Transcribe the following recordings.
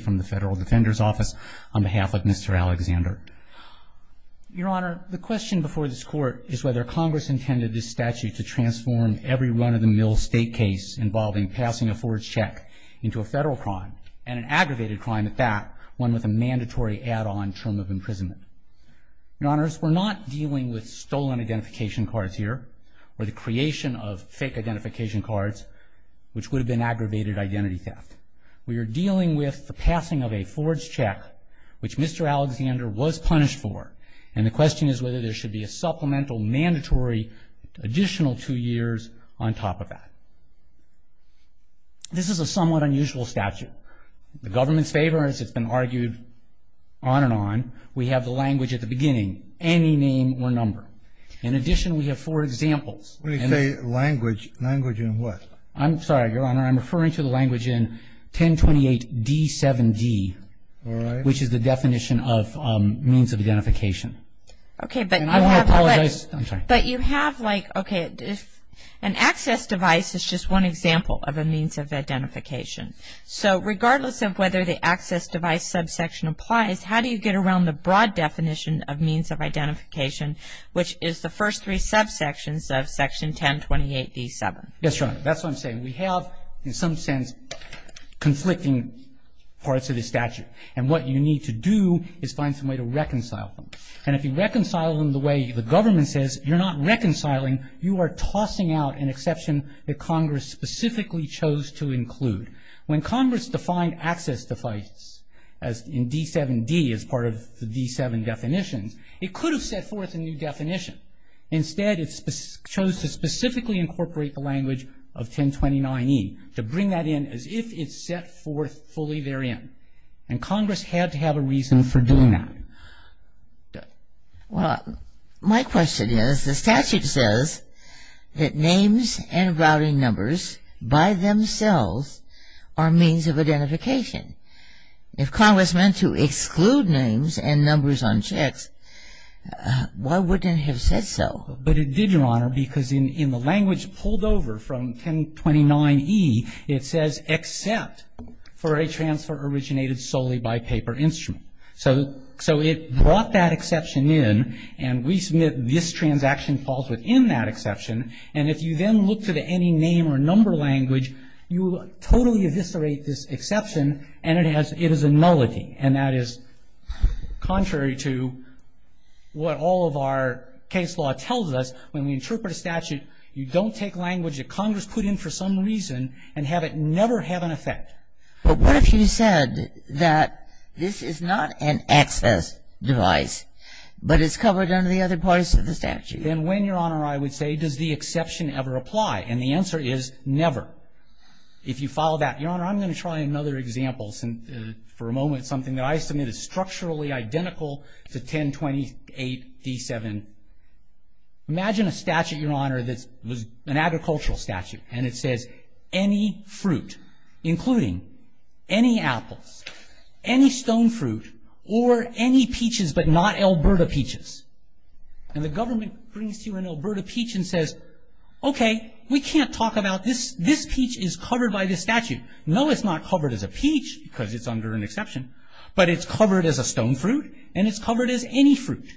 from the Federal Defender's Office on behalf of Mr. Alexander. Your Honor, the question before this Court is whether Congress intended this statute to transform every run-of-the-mill state case involving passing a forged check into a federal crime and an aggravated crime at that, one with a mandatory add-on term of imprisonment. Your Honors, we're not dealing with stolen identification cards here or the creation of fake identification cards, which would have been aggravated identity theft. We are dealing with the passing of a forged check, which Mr. Alexander was punished for, and the question is whether there should be a supplemental mandatory additional two years on top of that. This is a somewhat unusual statute. The government's favor, as it's been argued on and on, we have the language at the beginning, any name or number. In addition, we have four examples. When you say language, language in what? I'm sorry, Your Honor, I'm referring to the language in 1028d7d, which is the definition of means of identification. Okay, but you have like, okay, an access device is just one example of a means of identification. So regardless of whether the access device subsection applies, how do you get around the broad definition of means of identification, which is the first three subsections of Section 1028d7? Yes, Your Honor, that's what I'm saying. We have, in some sense, conflicting parts of the statute. And what you need to do is find some way to reconcile them. And if you reconcile them the way the government says you're not reconciling, you are tossing out an exception that Congress specifically chose to include. When Congress defined access device in D7d as part of the D7 definitions, it could have set forth a new definition. Instead, it chose to specifically incorporate the language of 1029e, to bring that in as if it set forth fully therein. And Congress had to have a reason for doing that. Well, my question is, the statute says that names and routing numbers by themselves are means of identification. If Congress meant to exclude names and numbers on checks, why wouldn't it have said so? But it did, Your Honor, because in the language pulled over from 1029e, it says except for a transfer originated solely by paper instrument. So it brought that exception in, and we submit this transaction falls within that exception. And if you then look to the any name or number language, you totally eviscerate this exception, and it is a nullity. And that is contrary to what all of our case law tells us. When we interpret a statute, you don't take language that Congress put in for some reason and have it never have an effect. But what if you said that this is not an access device, but it's covered under the other parts of the statute? Then when, Your Honor, I would say, does the exception ever apply? And the answer is never. If you follow that, Your Honor, I'm going to try another example for a moment, something that I submit is structurally identical to 1028d7. Imagine a statute, Your Honor, that's an agricultural statute, and it says any fruit, including any apples, any stone fruit, or any peaches but not Alberta peaches. And the government brings to you an Alberta peach and says, okay, we can't talk about this. This peach is covered by this statute. No, it's not covered as a peach because it's under an exception, but it's covered as a stone fruit, and it's covered as any fruit.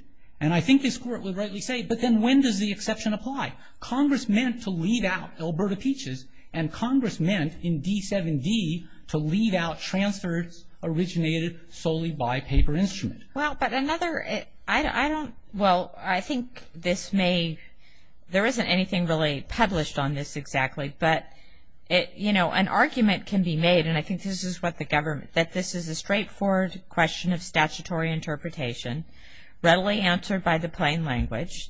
And I think this Court would rightly say, but then when does the exception apply? Congress meant to leave out Alberta peaches, and Congress meant in D7d to leave out transfers originated solely by paper instrument. Well, but another, I don't, well, I think this may, there isn't anything really published on this exactly, but, you know, an argument can be made, and I think this is what the government, that this is a straightforward question of statutory interpretation, readily answered by the plain language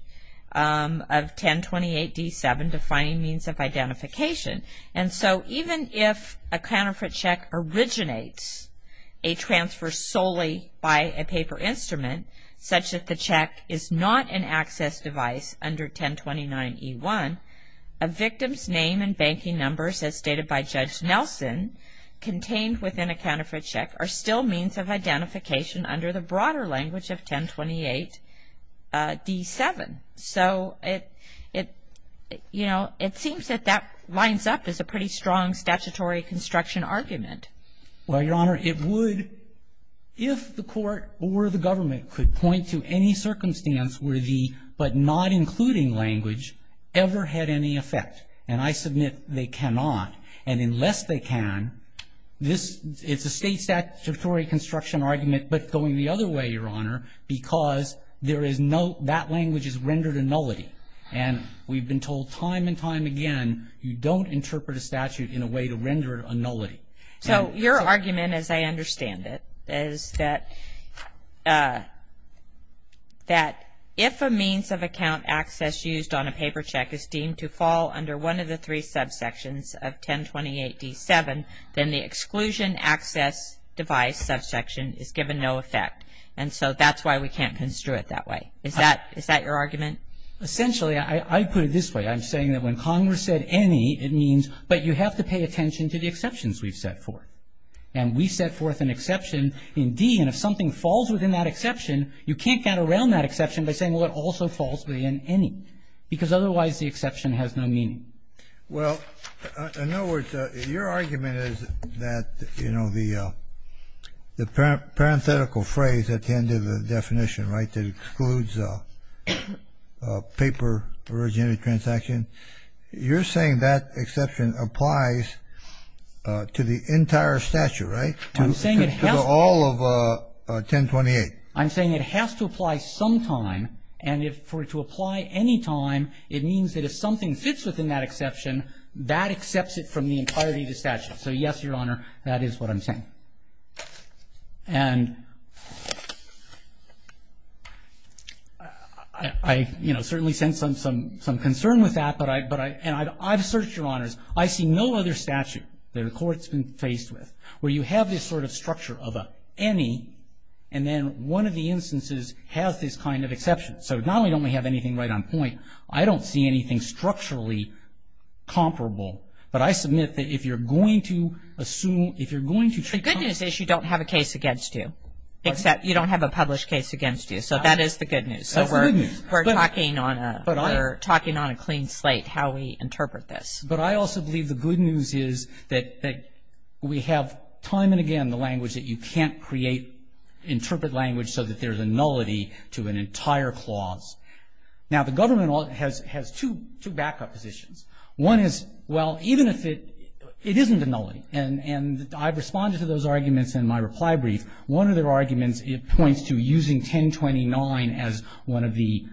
of 1028d7 defining means of identification. And so even if a counterfeit check originates a transfer solely by a paper instrument, such that the check is not an access device under 1029e1, a victim's name and banking numbers as stated by Judge Nelson contained within a counterfeit check are still means of identification under the broader language of 1028d7. So it, you know, it seems that that lines up as a pretty strong statutory construction argument. Well, Your Honor, it would if the Court or the government could point to any circumstance where the but not including language ever had any effect. And I submit they cannot. And unless they can, this, it's a state statutory construction argument but going the other way, Your Honor, because there is no, that language is rendered a nullity. And we've been told time and time again, you don't interpret a statute in a way to render a nullity. So your argument, as I understand it, is that if a means of account access used on a paper check is deemed to fall under one of the three subsections of 1028d7, then the exclusion access device subsection is given no effect. And so that's why we can't construe it that way. Is that your argument? Essentially, I put it this way. I'm saying that when Congress said any, it means, but you have to pay attention to the exceptions we've set forth. And we set forth an exception in D, and if something falls within that exception, you can't get around that exception by saying, well, it also falls within any, because otherwise the exception has no meaning. Well, in other words, your argument is that, you know, the parenthetical phrase at the end of the definition, right, that excludes paper originated transaction, you're saying that exception applies to the entire statute, right? I'm saying it has to. To all of 1028. I'm saying it has to apply sometime. And for it to apply anytime, it means that if something fits within that exception, that accepts it from the entirety of the statute. So, yes, Your Honor, that is what I'm saying. And I, you know, certainly sense some concern with that, but I've searched, Your Honors. I see no other statute that a court's been faced with where you have this sort of structure of an any, and then one of the instances has this kind of exception. So not only don't we have anything right on point, I don't see anything structurally comparable, but I submit that if you're going to assume, if you're going to treat. The good news is you don't have a case against you, except you don't have a published case against you. So that is the good news. That's the good news. We're talking on a clean slate how we interpret this. But I also believe the good news is that we have time and again the language that you can't create, interpret language so that there's a nullity to an entire clause. Now, the government has two backup positions. One is, well, even if it isn't a nullity, and I've responded to those arguments in my reply brief, one of their arguments points to using 1029 as one of the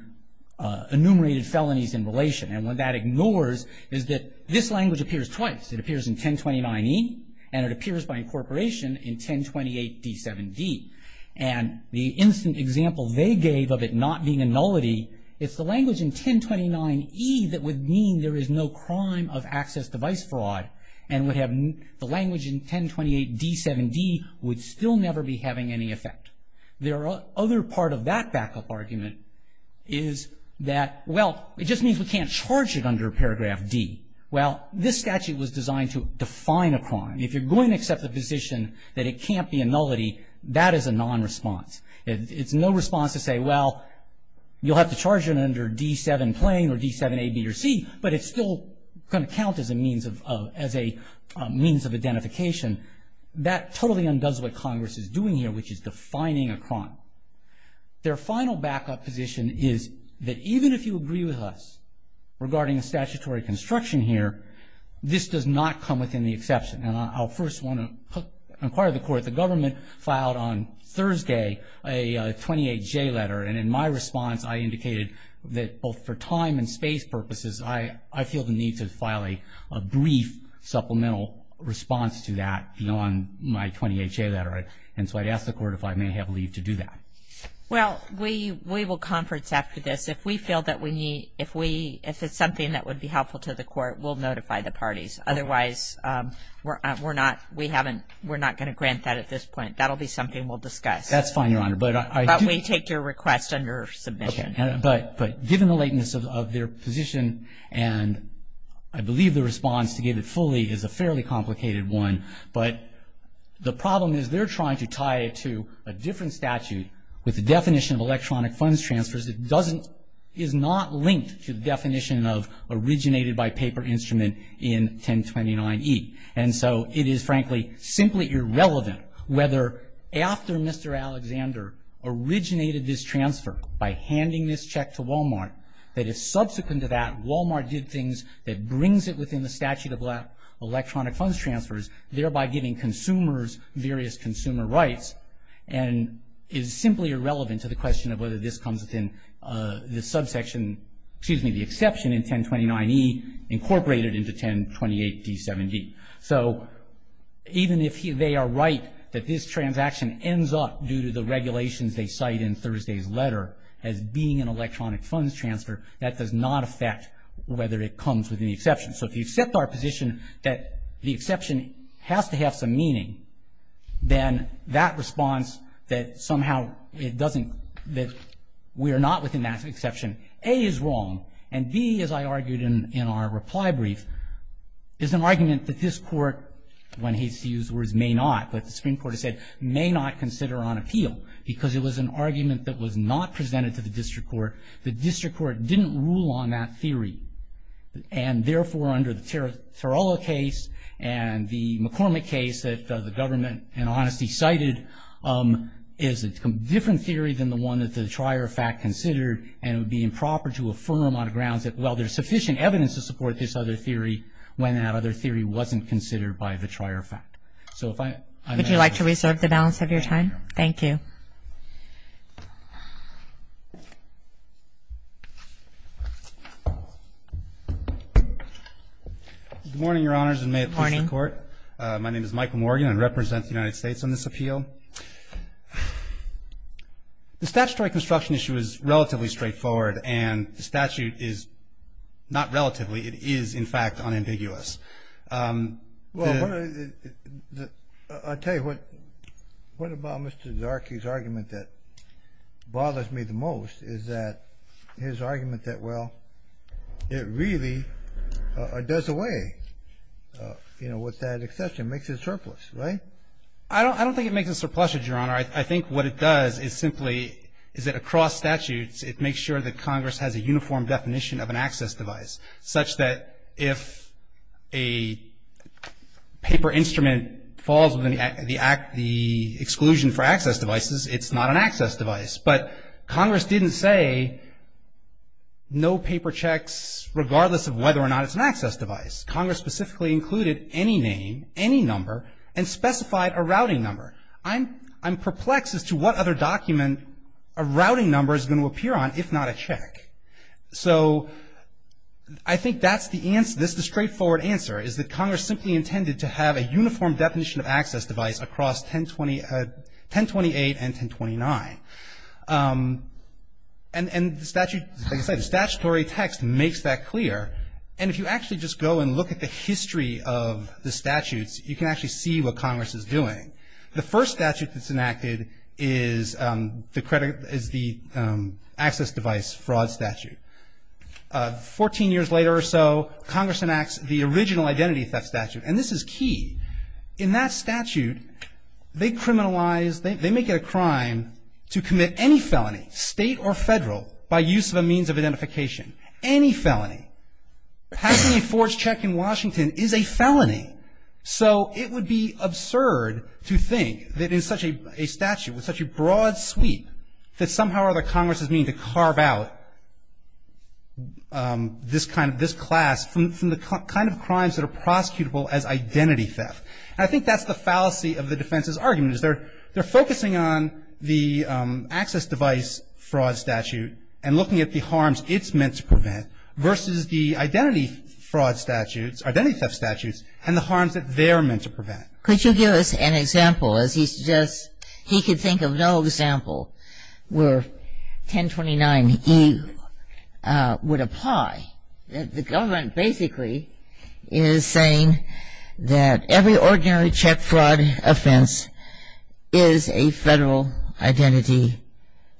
enumerated felonies in relation. And what that ignores is that this language appears twice. It appears in 1029E, and it appears by incorporation in 1028D7D. And the instant example they gave of it not being a nullity, it's the language in 1029E that would mean there is no crime of access device fraud, and the language in 1028D7D would still never be having any effect. Their other part of that backup argument is that, well, it just means we can't charge it under paragraph D. Well, this statute was designed to define a crime. If you're going to accept the position that it can't be a nullity, that is a non-response. It's no response to say, well, you'll have to charge it under D7 plain or D7A, B, or C, but it's still going to count as a means of identification. That totally undoes what Congress is doing here, which is defining a crime. Their final backup position is that even if you agree with us regarding statutory construction here, this does not come within the exception. And I'll first want to inquire the court. The government filed on Thursday a 28J letter, and in my response, I indicated that both for time and space purposes, I feel the need to file a brief supplemental response to that on my 28J letter. And so I'd ask the court if I may have leave to do that. Well, we will conference after this. If we feel that we need to, if it's something that would be helpful to the court, we'll notify the parties. Otherwise, we're not going to grant that at this point. That will be something we'll discuss. That's fine, Your Honor. But we take your request under submission. Okay. But given the lateness of their position, and I believe the response to get it fully is a fairly complicated one, but the problem is they're trying to tie it to a different statute with the definition of electronic funds transfers that is not linked to the definition of originated by paper instrument in 1029E. And so it is, frankly, simply irrelevant whether after Mr. Alexander originated this transfer by handing this check to Wal-Mart that is subsequent to that, Wal-Mart did things that brings it within the statute of electronic funds transfers, thereby giving consumers various consumer rights, and is simply irrelevant to the question of whether this comes within the subsection, excuse me, the exception in 1029E incorporated into 1028D7D. So even if they are right that this transaction ends up due to the regulations they cite in Thursday's letter as being an electronic funds transfer, that does not affect whether it comes within the exception. So if you accept our position that the exception has to have some meaning, then that response that somehow it doesn't, that we are not within that exception, A is wrong. And B, as I argued in our reply brief, is an argument that this court, one hates to use the words may not, but the Supreme Court has said may not consider on appeal because it was an argument that was not presented to the district court. The district court didn't rule on that theory. And therefore, under the Torello case and the McCormick case that the government, in honesty, cited is a different theory than the one that the trier of fact considered and it would be improper to affirm on the grounds that, well, there's sufficient evidence to support this other theory when that other theory wasn't considered by the trier of fact. So if I may. Would you like to reserve the balance of your time? Thank you. Good morning, Your Honors, and may it please the Court. Good morning. My name is Michael Morgan. I represent the United States on this appeal. The statutory construction issue is relatively straightforward and the statute is not relatively, it is, in fact, unambiguous. Well, I'll tell you what about Mr. Zarkey's argument that bothers me the most is that his argument that, well, it really does away, you know, with that exception, makes it surplus, right? I don't think it makes it surplus, Your Honor. I think what it does is simply is that across statutes, it makes sure that Congress has a uniform definition of an access device, such that if a paper instrument falls within the exclusion for access devices, it's not an access device. But Congress didn't say no paper checks regardless of whether or not it's an access device. Congress specifically included any name, any number, and specified a routing number. I'm perplexed as to what other document a routing number is going to appear on if not a check. So I think that's the answer, this is the straightforward answer, is that Congress simply intended to have a uniform definition of access device across 1028 and 1029. And the statute, like I said, the statutory text makes that clear. And if you actually just go and look at the history of the statutes, you can actually see what Congress is doing. The first statute that's enacted is the access device fraud statute. Fourteen years later or so, Congress enacts the original identity theft statute, and this is key. In that statute, they criminalize, they make it a crime to commit any felony, state or federal, by use of a means of identification, any felony. Passing a forged check in Washington is a felony. So it would be absurd to think that in such a statute, with such a broad sweep, that somehow or other Congress is meaning to carve out this kind of, this class from the kind of crimes that are prosecutable as identity theft. And I think that's the fallacy of the defense's argument, is they're focusing on the access device fraud statute and looking at the harms it's meant to prevent versus the identity fraud statutes, identity theft statutes, and the harms that they're meant to prevent. Could you give us an example? As he suggests, he could think of no example where 1029E would apply. The government basically is saying that every ordinary check fraud offense is a federal identity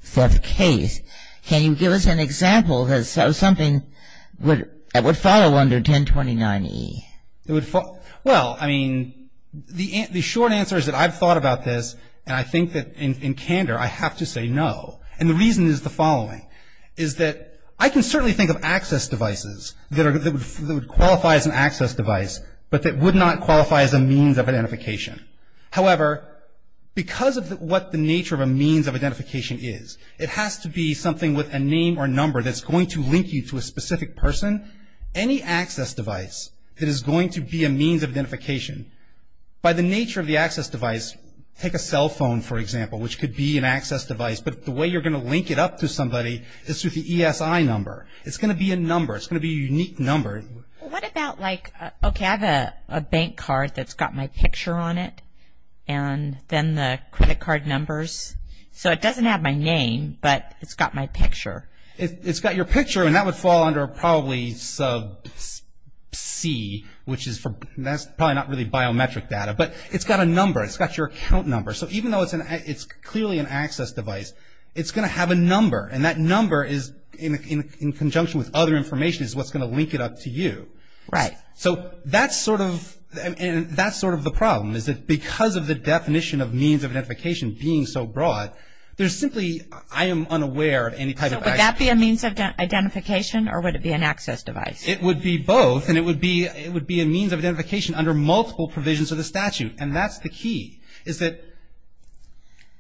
theft case. Can you give us an example of something that would follow under 1029E? Well, I mean, the short answer is that I've thought about this, and I think that in candor, I have to say no. And the reason is the following, is that I can certainly think of access devices that would qualify as an access device, but that would not qualify as a means of identification. However, because of what the nature of a means of identification is, it has to be something with a name or number that's going to link you to a specific person. Any access device that is going to be a means of identification, by the nature of the access device, take a cell phone, for example, which could be an access device, but the way you're going to link it up to somebody is through the ESI number. It's going to be a number. It's going to be a unique number. What about like, okay, I have a bank card that's got my picture on it, and then the credit card numbers. So it doesn't have my name, but it's got my picture. It's got your picture, and that would fall under probably sub C, which is probably not really biometric data, but it's got a number. It's got your account number. So even though it's clearly an access device, it's going to have a number, and that number is in conjunction with other information is what's going to link it up to you. Right. So that's sort of the problem is that because of the definition of means of identification being so broad, there's simply, I am unaware of any type of access. So would that be a means of identification, or would it be an access device? It would be both, and it would be a means of identification under multiple provisions of the statute, and that's the key is that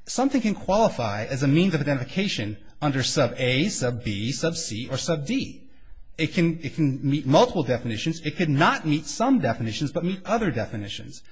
something can qualify as a means of identification under sub A, sub B, sub C, or sub D. It can meet multiple definitions. It could not meet some definitions, but meet other definitions.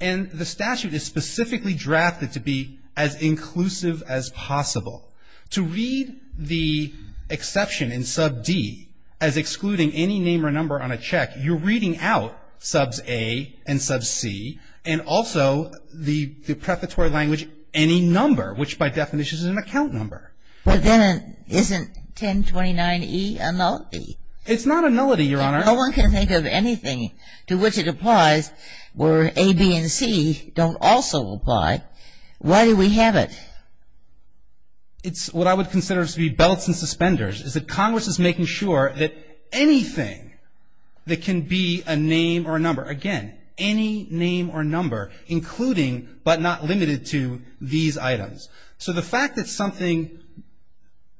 And the statute is specifically drafted to be as inclusive as possible. To read the exception in sub D as excluding any name or number on a check, you're reading out subs A and sub C, and also the prefatory language, any number, which by definition is an account number. But then isn't 1029E a nullity? It's not a nullity, Your Honor. No one can think of anything to which it applies where A, B, and C don't also apply. Why do we have it? It's what I would consider to be belts and suspenders is that Congress is making sure that anything that can be a name or a number, again, any name or number, including but not limited to these items. So the fact that something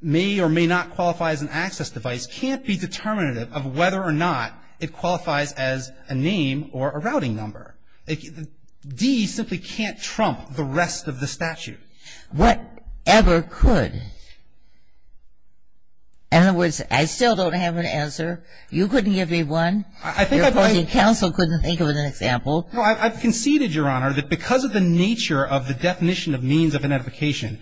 may or may not qualify as an access device can't be determinative of whether or not it qualifies as a name or a routing number. D simply can't trump the rest of the statute. Whatever could. In other words, I still don't have an answer. You couldn't give me one. Your counsel couldn't think of an example. No, I've conceded, Your Honor, that because of the nature of the definition of means of identification,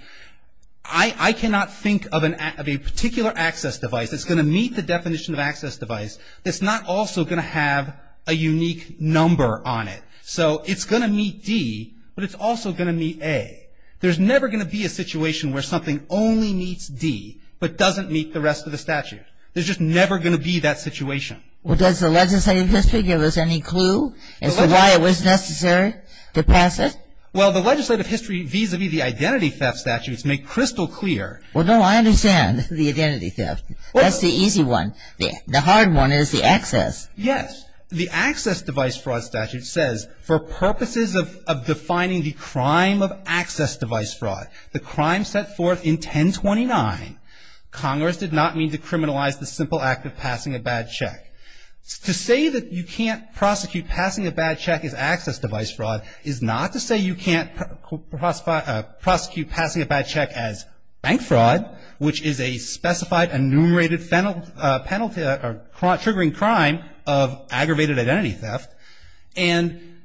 I cannot think of a particular access device that's going to meet the definition of access device that's not also going to have a unique number on it. So it's going to meet D, but it's also going to meet A. There's never going to be a situation where something only meets D but doesn't meet the rest of the statute. There's just never going to be that situation. Well, does the legislative history give us any clue as to why it was necessary to pass it? Well, the legislative history vis-a-vis the identity theft statutes make crystal clear. Well, no, I understand the identity theft. That's the easy one. The hard one is the access. Yes. The access device fraud statute says for purposes of defining the crime of access device fraud, the crime set forth in 1029, Congress did not mean to criminalize the simple act of passing a bad check. To say that you can't prosecute passing a bad check as access device fraud is not to say you can't prosecute passing a bad check as bank fraud, which is a specified enumerated penalty or triggering crime of aggravated identity theft. And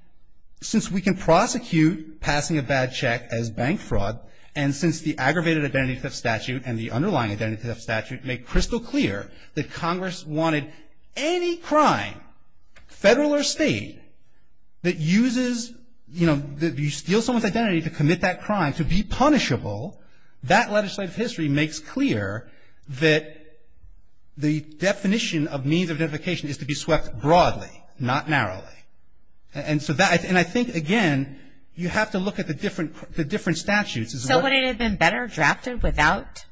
since we can prosecute passing a bad check as bank fraud, and since the aggravated identity theft statute and the underlying identity theft statute make crystal clear that Congress wanted any crime, federal or state, that uses, you know, that you steal someone's identity to commit that crime to be punishable, that legislative history makes clear that the definition of means of identification is to be swept broadly, not narrowly. And so that, and I think, again, you have to look at the different statutes. So would it have been better drafted without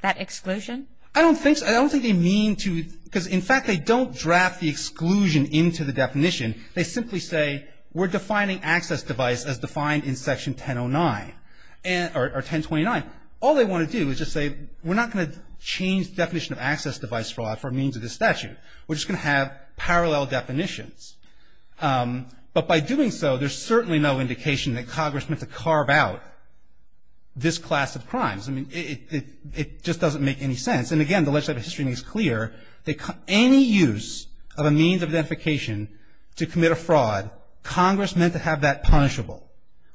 that exclusion? I don't think so. I don't think they mean to, because in fact they don't draft the exclusion into the definition. They simply say we're defining access device as defined in Section 1009 or 1029. All they want to do is just say we're not going to change the definition of access device fraud for means of this statute. We're just going to have parallel definitions. But by doing so, there's certainly no indication that Congress meant to carve out this class of crimes. I mean, it just doesn't make any sense. And again, the legislative history makes clear that any use of a means of identification to commit a fraud, Congress meant to have that punishable,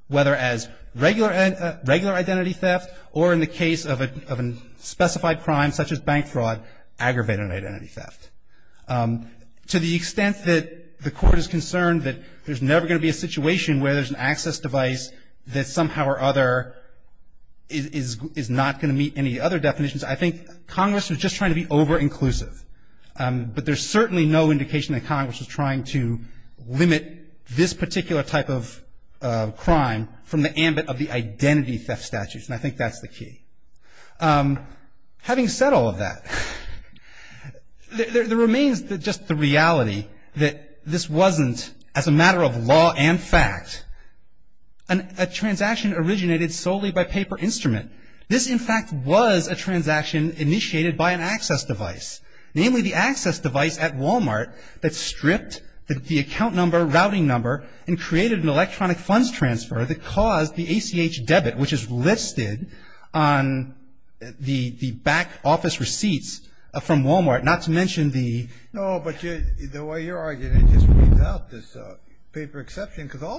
whether as regular identity theft or in the case of a specified crime such as bank fraud, aggravated identity theft. To the extent that the Court is concerned that there's never going to be a situation where there's an access device that somehow or other is not going to meet any other definitions, I think Congress was just trying to be over-inclusive. But there's certainly no indication that Congress was trying to limit this particular type of crime from the ambit of the identity theft statutes, and I think that's the key. Having said all of that, there remains just the reality that this wasn't, as a matter of law and fact, a transaction originated solely by paper instrument. This, in fact, was a transaction initiated by an access device, namely the access device at Wal-Mart that stripped the account number, routing number, and created an electronic funds transfer that caused the ACH debit, which is listed on the back office receipts from Wal-Mart, not to mention the — The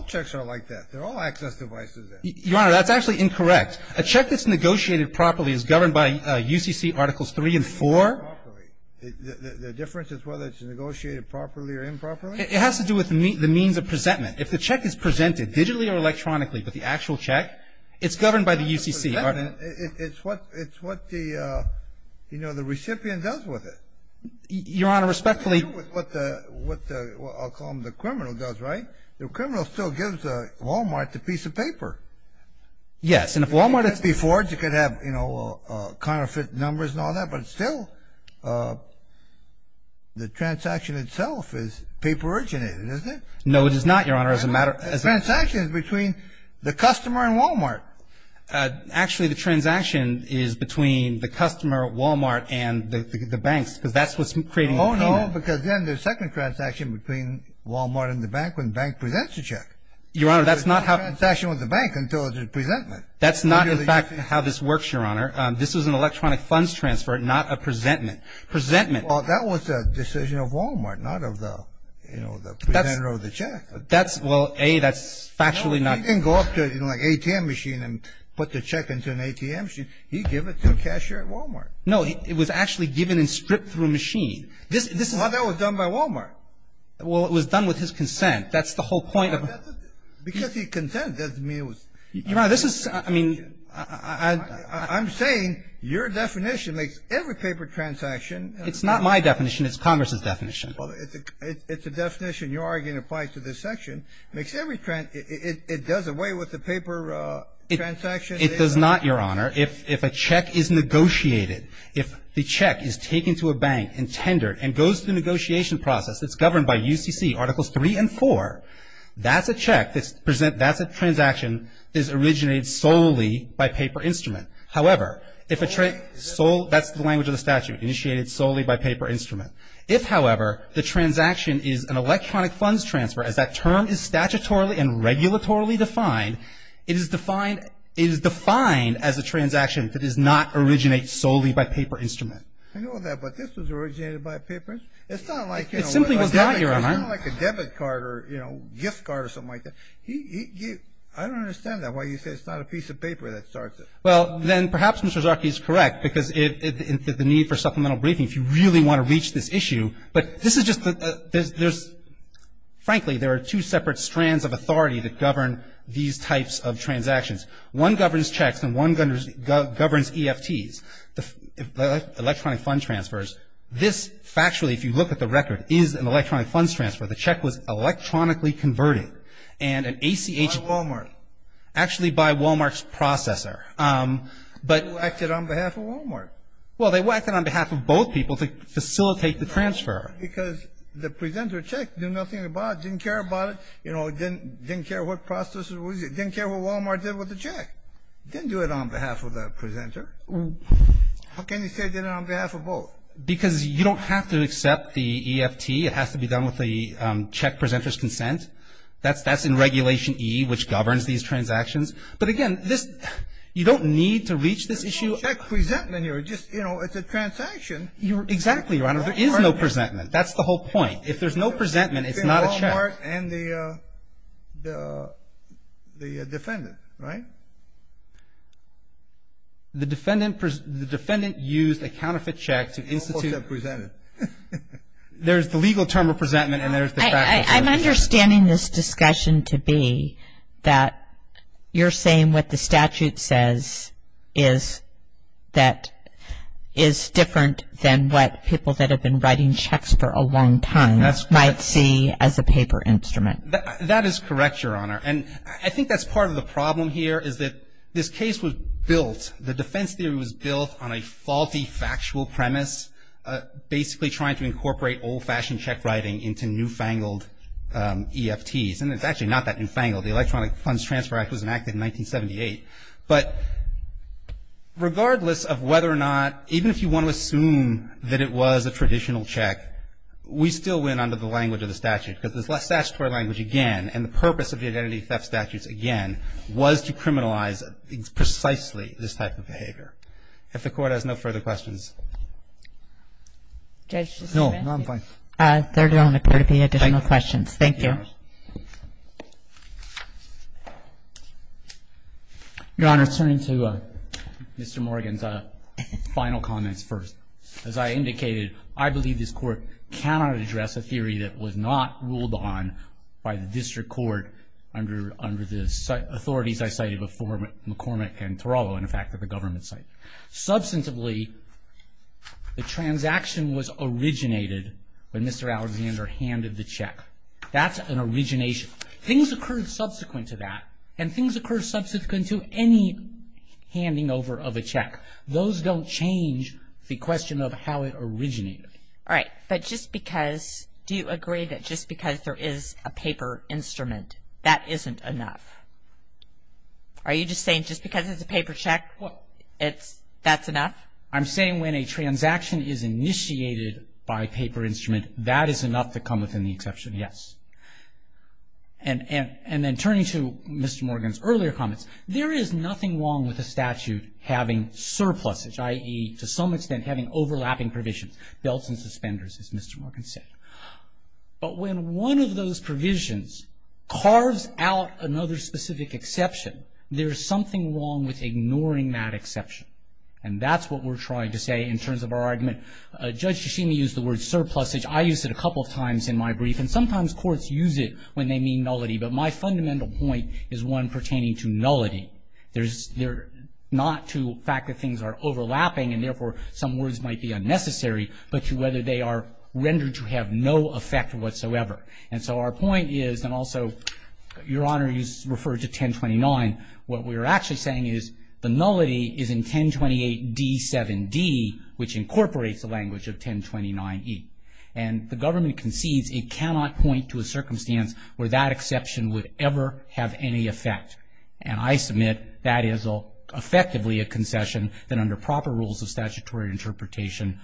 checks are like that. They're all access devices. Your Honor, that's actually incorrect. A check that's negotiated properly is governed by UCC Articles 3 and 4. Negotiated properly. The difference is whether it's negotiated properly or improperly? It has to do with the means of presentment. If the check is presented digitally or electronically with the actual check, it's governed by the UCC. It's what the recipient does with it. Your Honor, respectfully — It has to do with what the — I'll call them the criminal does, right? The criminal still gives Wal-Mart the piece of paper. Yes, and if Wal-Mart — Before, you could have, you know, counterfeit numbers and all that, but still the transaction itself is paper-originated, isn't it? No, it is not, Your Honor, as a matter of — The transaction is between the customer and Wal-Mart. Actually, the transaction is between the customer, Wal-Mart, and the banks because that's what's creating the payment. No, because then there's a second transaction between Wal-Mart and the bank when the bank presents the check. Your Honor, that's not how — There's no transaction with the bank until there's a presentment. That's not, in fact, how this works, Your Honor. This is an electronic funds transfer, not a presentment. Presentment — Well, that was a decision of Wal-Mart, not of the, you know, the presenter of the check. That's — well, A, that's factually not — No, he didn't go up to, you know, like an ATM machine and put the check into an ATM machine. He'd give it to a cashier at Wal-Mart. No, it was actually given and stripped through a machine. This is — Well, that was done by Wal-Mart. Well, it was done with his consent. That's the whole point of — Because he consented, doesn't mean it was — Your Honor, this is — I mean — I'm saying your definition makes every paper transaction — It's not my definition. It's Congress's definition. Well, it's a definition. Your argument applies to this section. It makes every — it does away with the paper transaction. It does not, Your Honor. Your Honor, if a check is negotiated, if the check is taken to a bank and tendered and goes through the negotiation process that's governed by UCC Articles 3 and 4, that's a check that's — that's a transaction that is originated solely by paper instrument. However, if a — That's the language of the statute, initiated solely by paper instrument. If, however, the transaction is an electronic funds transfer, as that term is statutorily and regulatorily defined, it is defined — it is defined as a transaction that does not originate solely by paper instrument. I know that, but this was originated by paper? It's not like, you know — It simply was not, Your Honor. It's not like a debit card or, you know, gift card or something like that. He — I don't understand that, why you say it's not a piece of paper that starts it. Well, then perhaps Mr. Zarke is correct because it — the need for supplemental briefing, if you really want to reach this issue. But this is just — there's — frankly, there are two separate strands of authority that govern these types of transactions. One governs checks and one governs EFTs, electronic funds transfers. This, factually, if you look at the record, is an electronic funds transfer. The check was electronically converted and an ACH — By Walmart. Actually, by Walmart's processor. But — They whacked it on behalf of Walmart. Well, they whacked it on behalf of both people to facilitate the transfer. Because the presenter checked, knew nothing about it, didn't care about it, you know, didn't care what processor it was, didn't care what Walmart did with the check. Didn't do it on behalf of the presenter. How can you say they did it on behalf of both? Because you don't have to accept the EFT. It has to be done with the check presenter's consent. That's in Regulation E, which governs these transactions. But again, this — you don't need to reach this issue — There's no check presentment here. It's just, you know, it's a transaction. Exactly, Your Honor. There is no presentment. That's the whole point. If there's no presentment, it's not a check. Between Walmart and the defendant, right? The defendant used a counterfeit check to institute — Of course they're presented. I'm understanding this discussion to be that you're saying what the statute says is that is different than what people that have been writing checks for a long time might see as a paper instrument. That is correct, Your Honor. And I think that's part of the problem here is that this case was built — the defense theory was built on a faulty factual premise, basically trying to incorporate old-fashioned check writing into newfangled EFTs. And it's actually not that newfangled. The Electronic Funds Transfer Act was enacted in 1978. But regardless of whether or not — even if you want to assume that it was a traditional check, we still went under the language of the statute. Because the statutory language, again, and the purpose of the identity theft statutes, again, was to criminalize precisely this type of behavior. If the Court has no further questions. Judge? No, I'm fine. There don't appear to be additional questions. Thank you. Your Honor, turning to Mr. Morgan's final comments first. As I indicated, I believe this Court cannot address a theory that was not ruled on by the District Court under the authorities I cited before McCormick and Torello, in fact, at the government site. Substantively, the transaction was originated when Mr. Alexander handed the check. That's an origination. Things occurred subsequent to that. And things occur subsequent to any handing over of a check. Those don't change the question of how it originated. All right. But just because — do you agree that just because there is a paper instrument, that isn't enough? Are you just saying just because it's a paper check, that's enough? I'm saying when a transaction is initiated by paper instrument, that is enough to come within the exception, yes. And then turning to Mr. Morgan's earlier comments, there is nothing wrong with a statute having surpluses, i.e., to some extent, having overlapping provisions, belts and suspenders, as Mr. Morgan said. But when one of those provisions carves out another specific exception, there is something wrong with ignoring that exception. And that's what we're trying to say in terms of our argument. Judge Yoshimi used the word surplusage. I used it a couple of times in my brief. And sometimes courts use it when they mean nullity. But my fundamental point is one pertaining to nullity. Not to the fact that things are overlapping and, therefore, some words might be unnecessary, but to whether they are rendered to have no effect whatsoever. And so our point is, and also, Your Honor, you referred to 1029. What we're actually saying is the nullity is in 1028d7d, which incorporates the language of 1029e. And the government concedes it cannot point to a circumstance where that exception would ever have any effect. And I submit that is effectively a concession that under proper rules of statutory interpretation,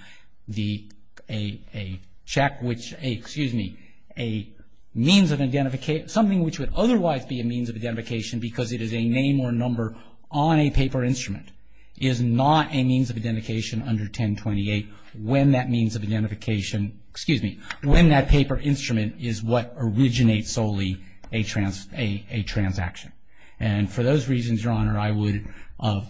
a check which, excuse me, a means of identification, something which would otherwise be a means of identification because it is a name or number on a paper instrument, is not a means of identification under 1028 when that means of identification, excuse me, when that paper instrument is what originates solely a transaction. And for those reasons, Your Honor, I would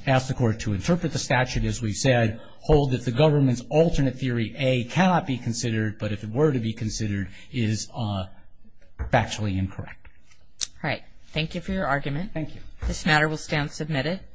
ask the Court to interpret the statute as we said, hold that the government's alternate theory A cannot be considered, but if it were to be considered, is factually incorrect. All right. Thank you for your argument. Thank you. This matter will stand submitted.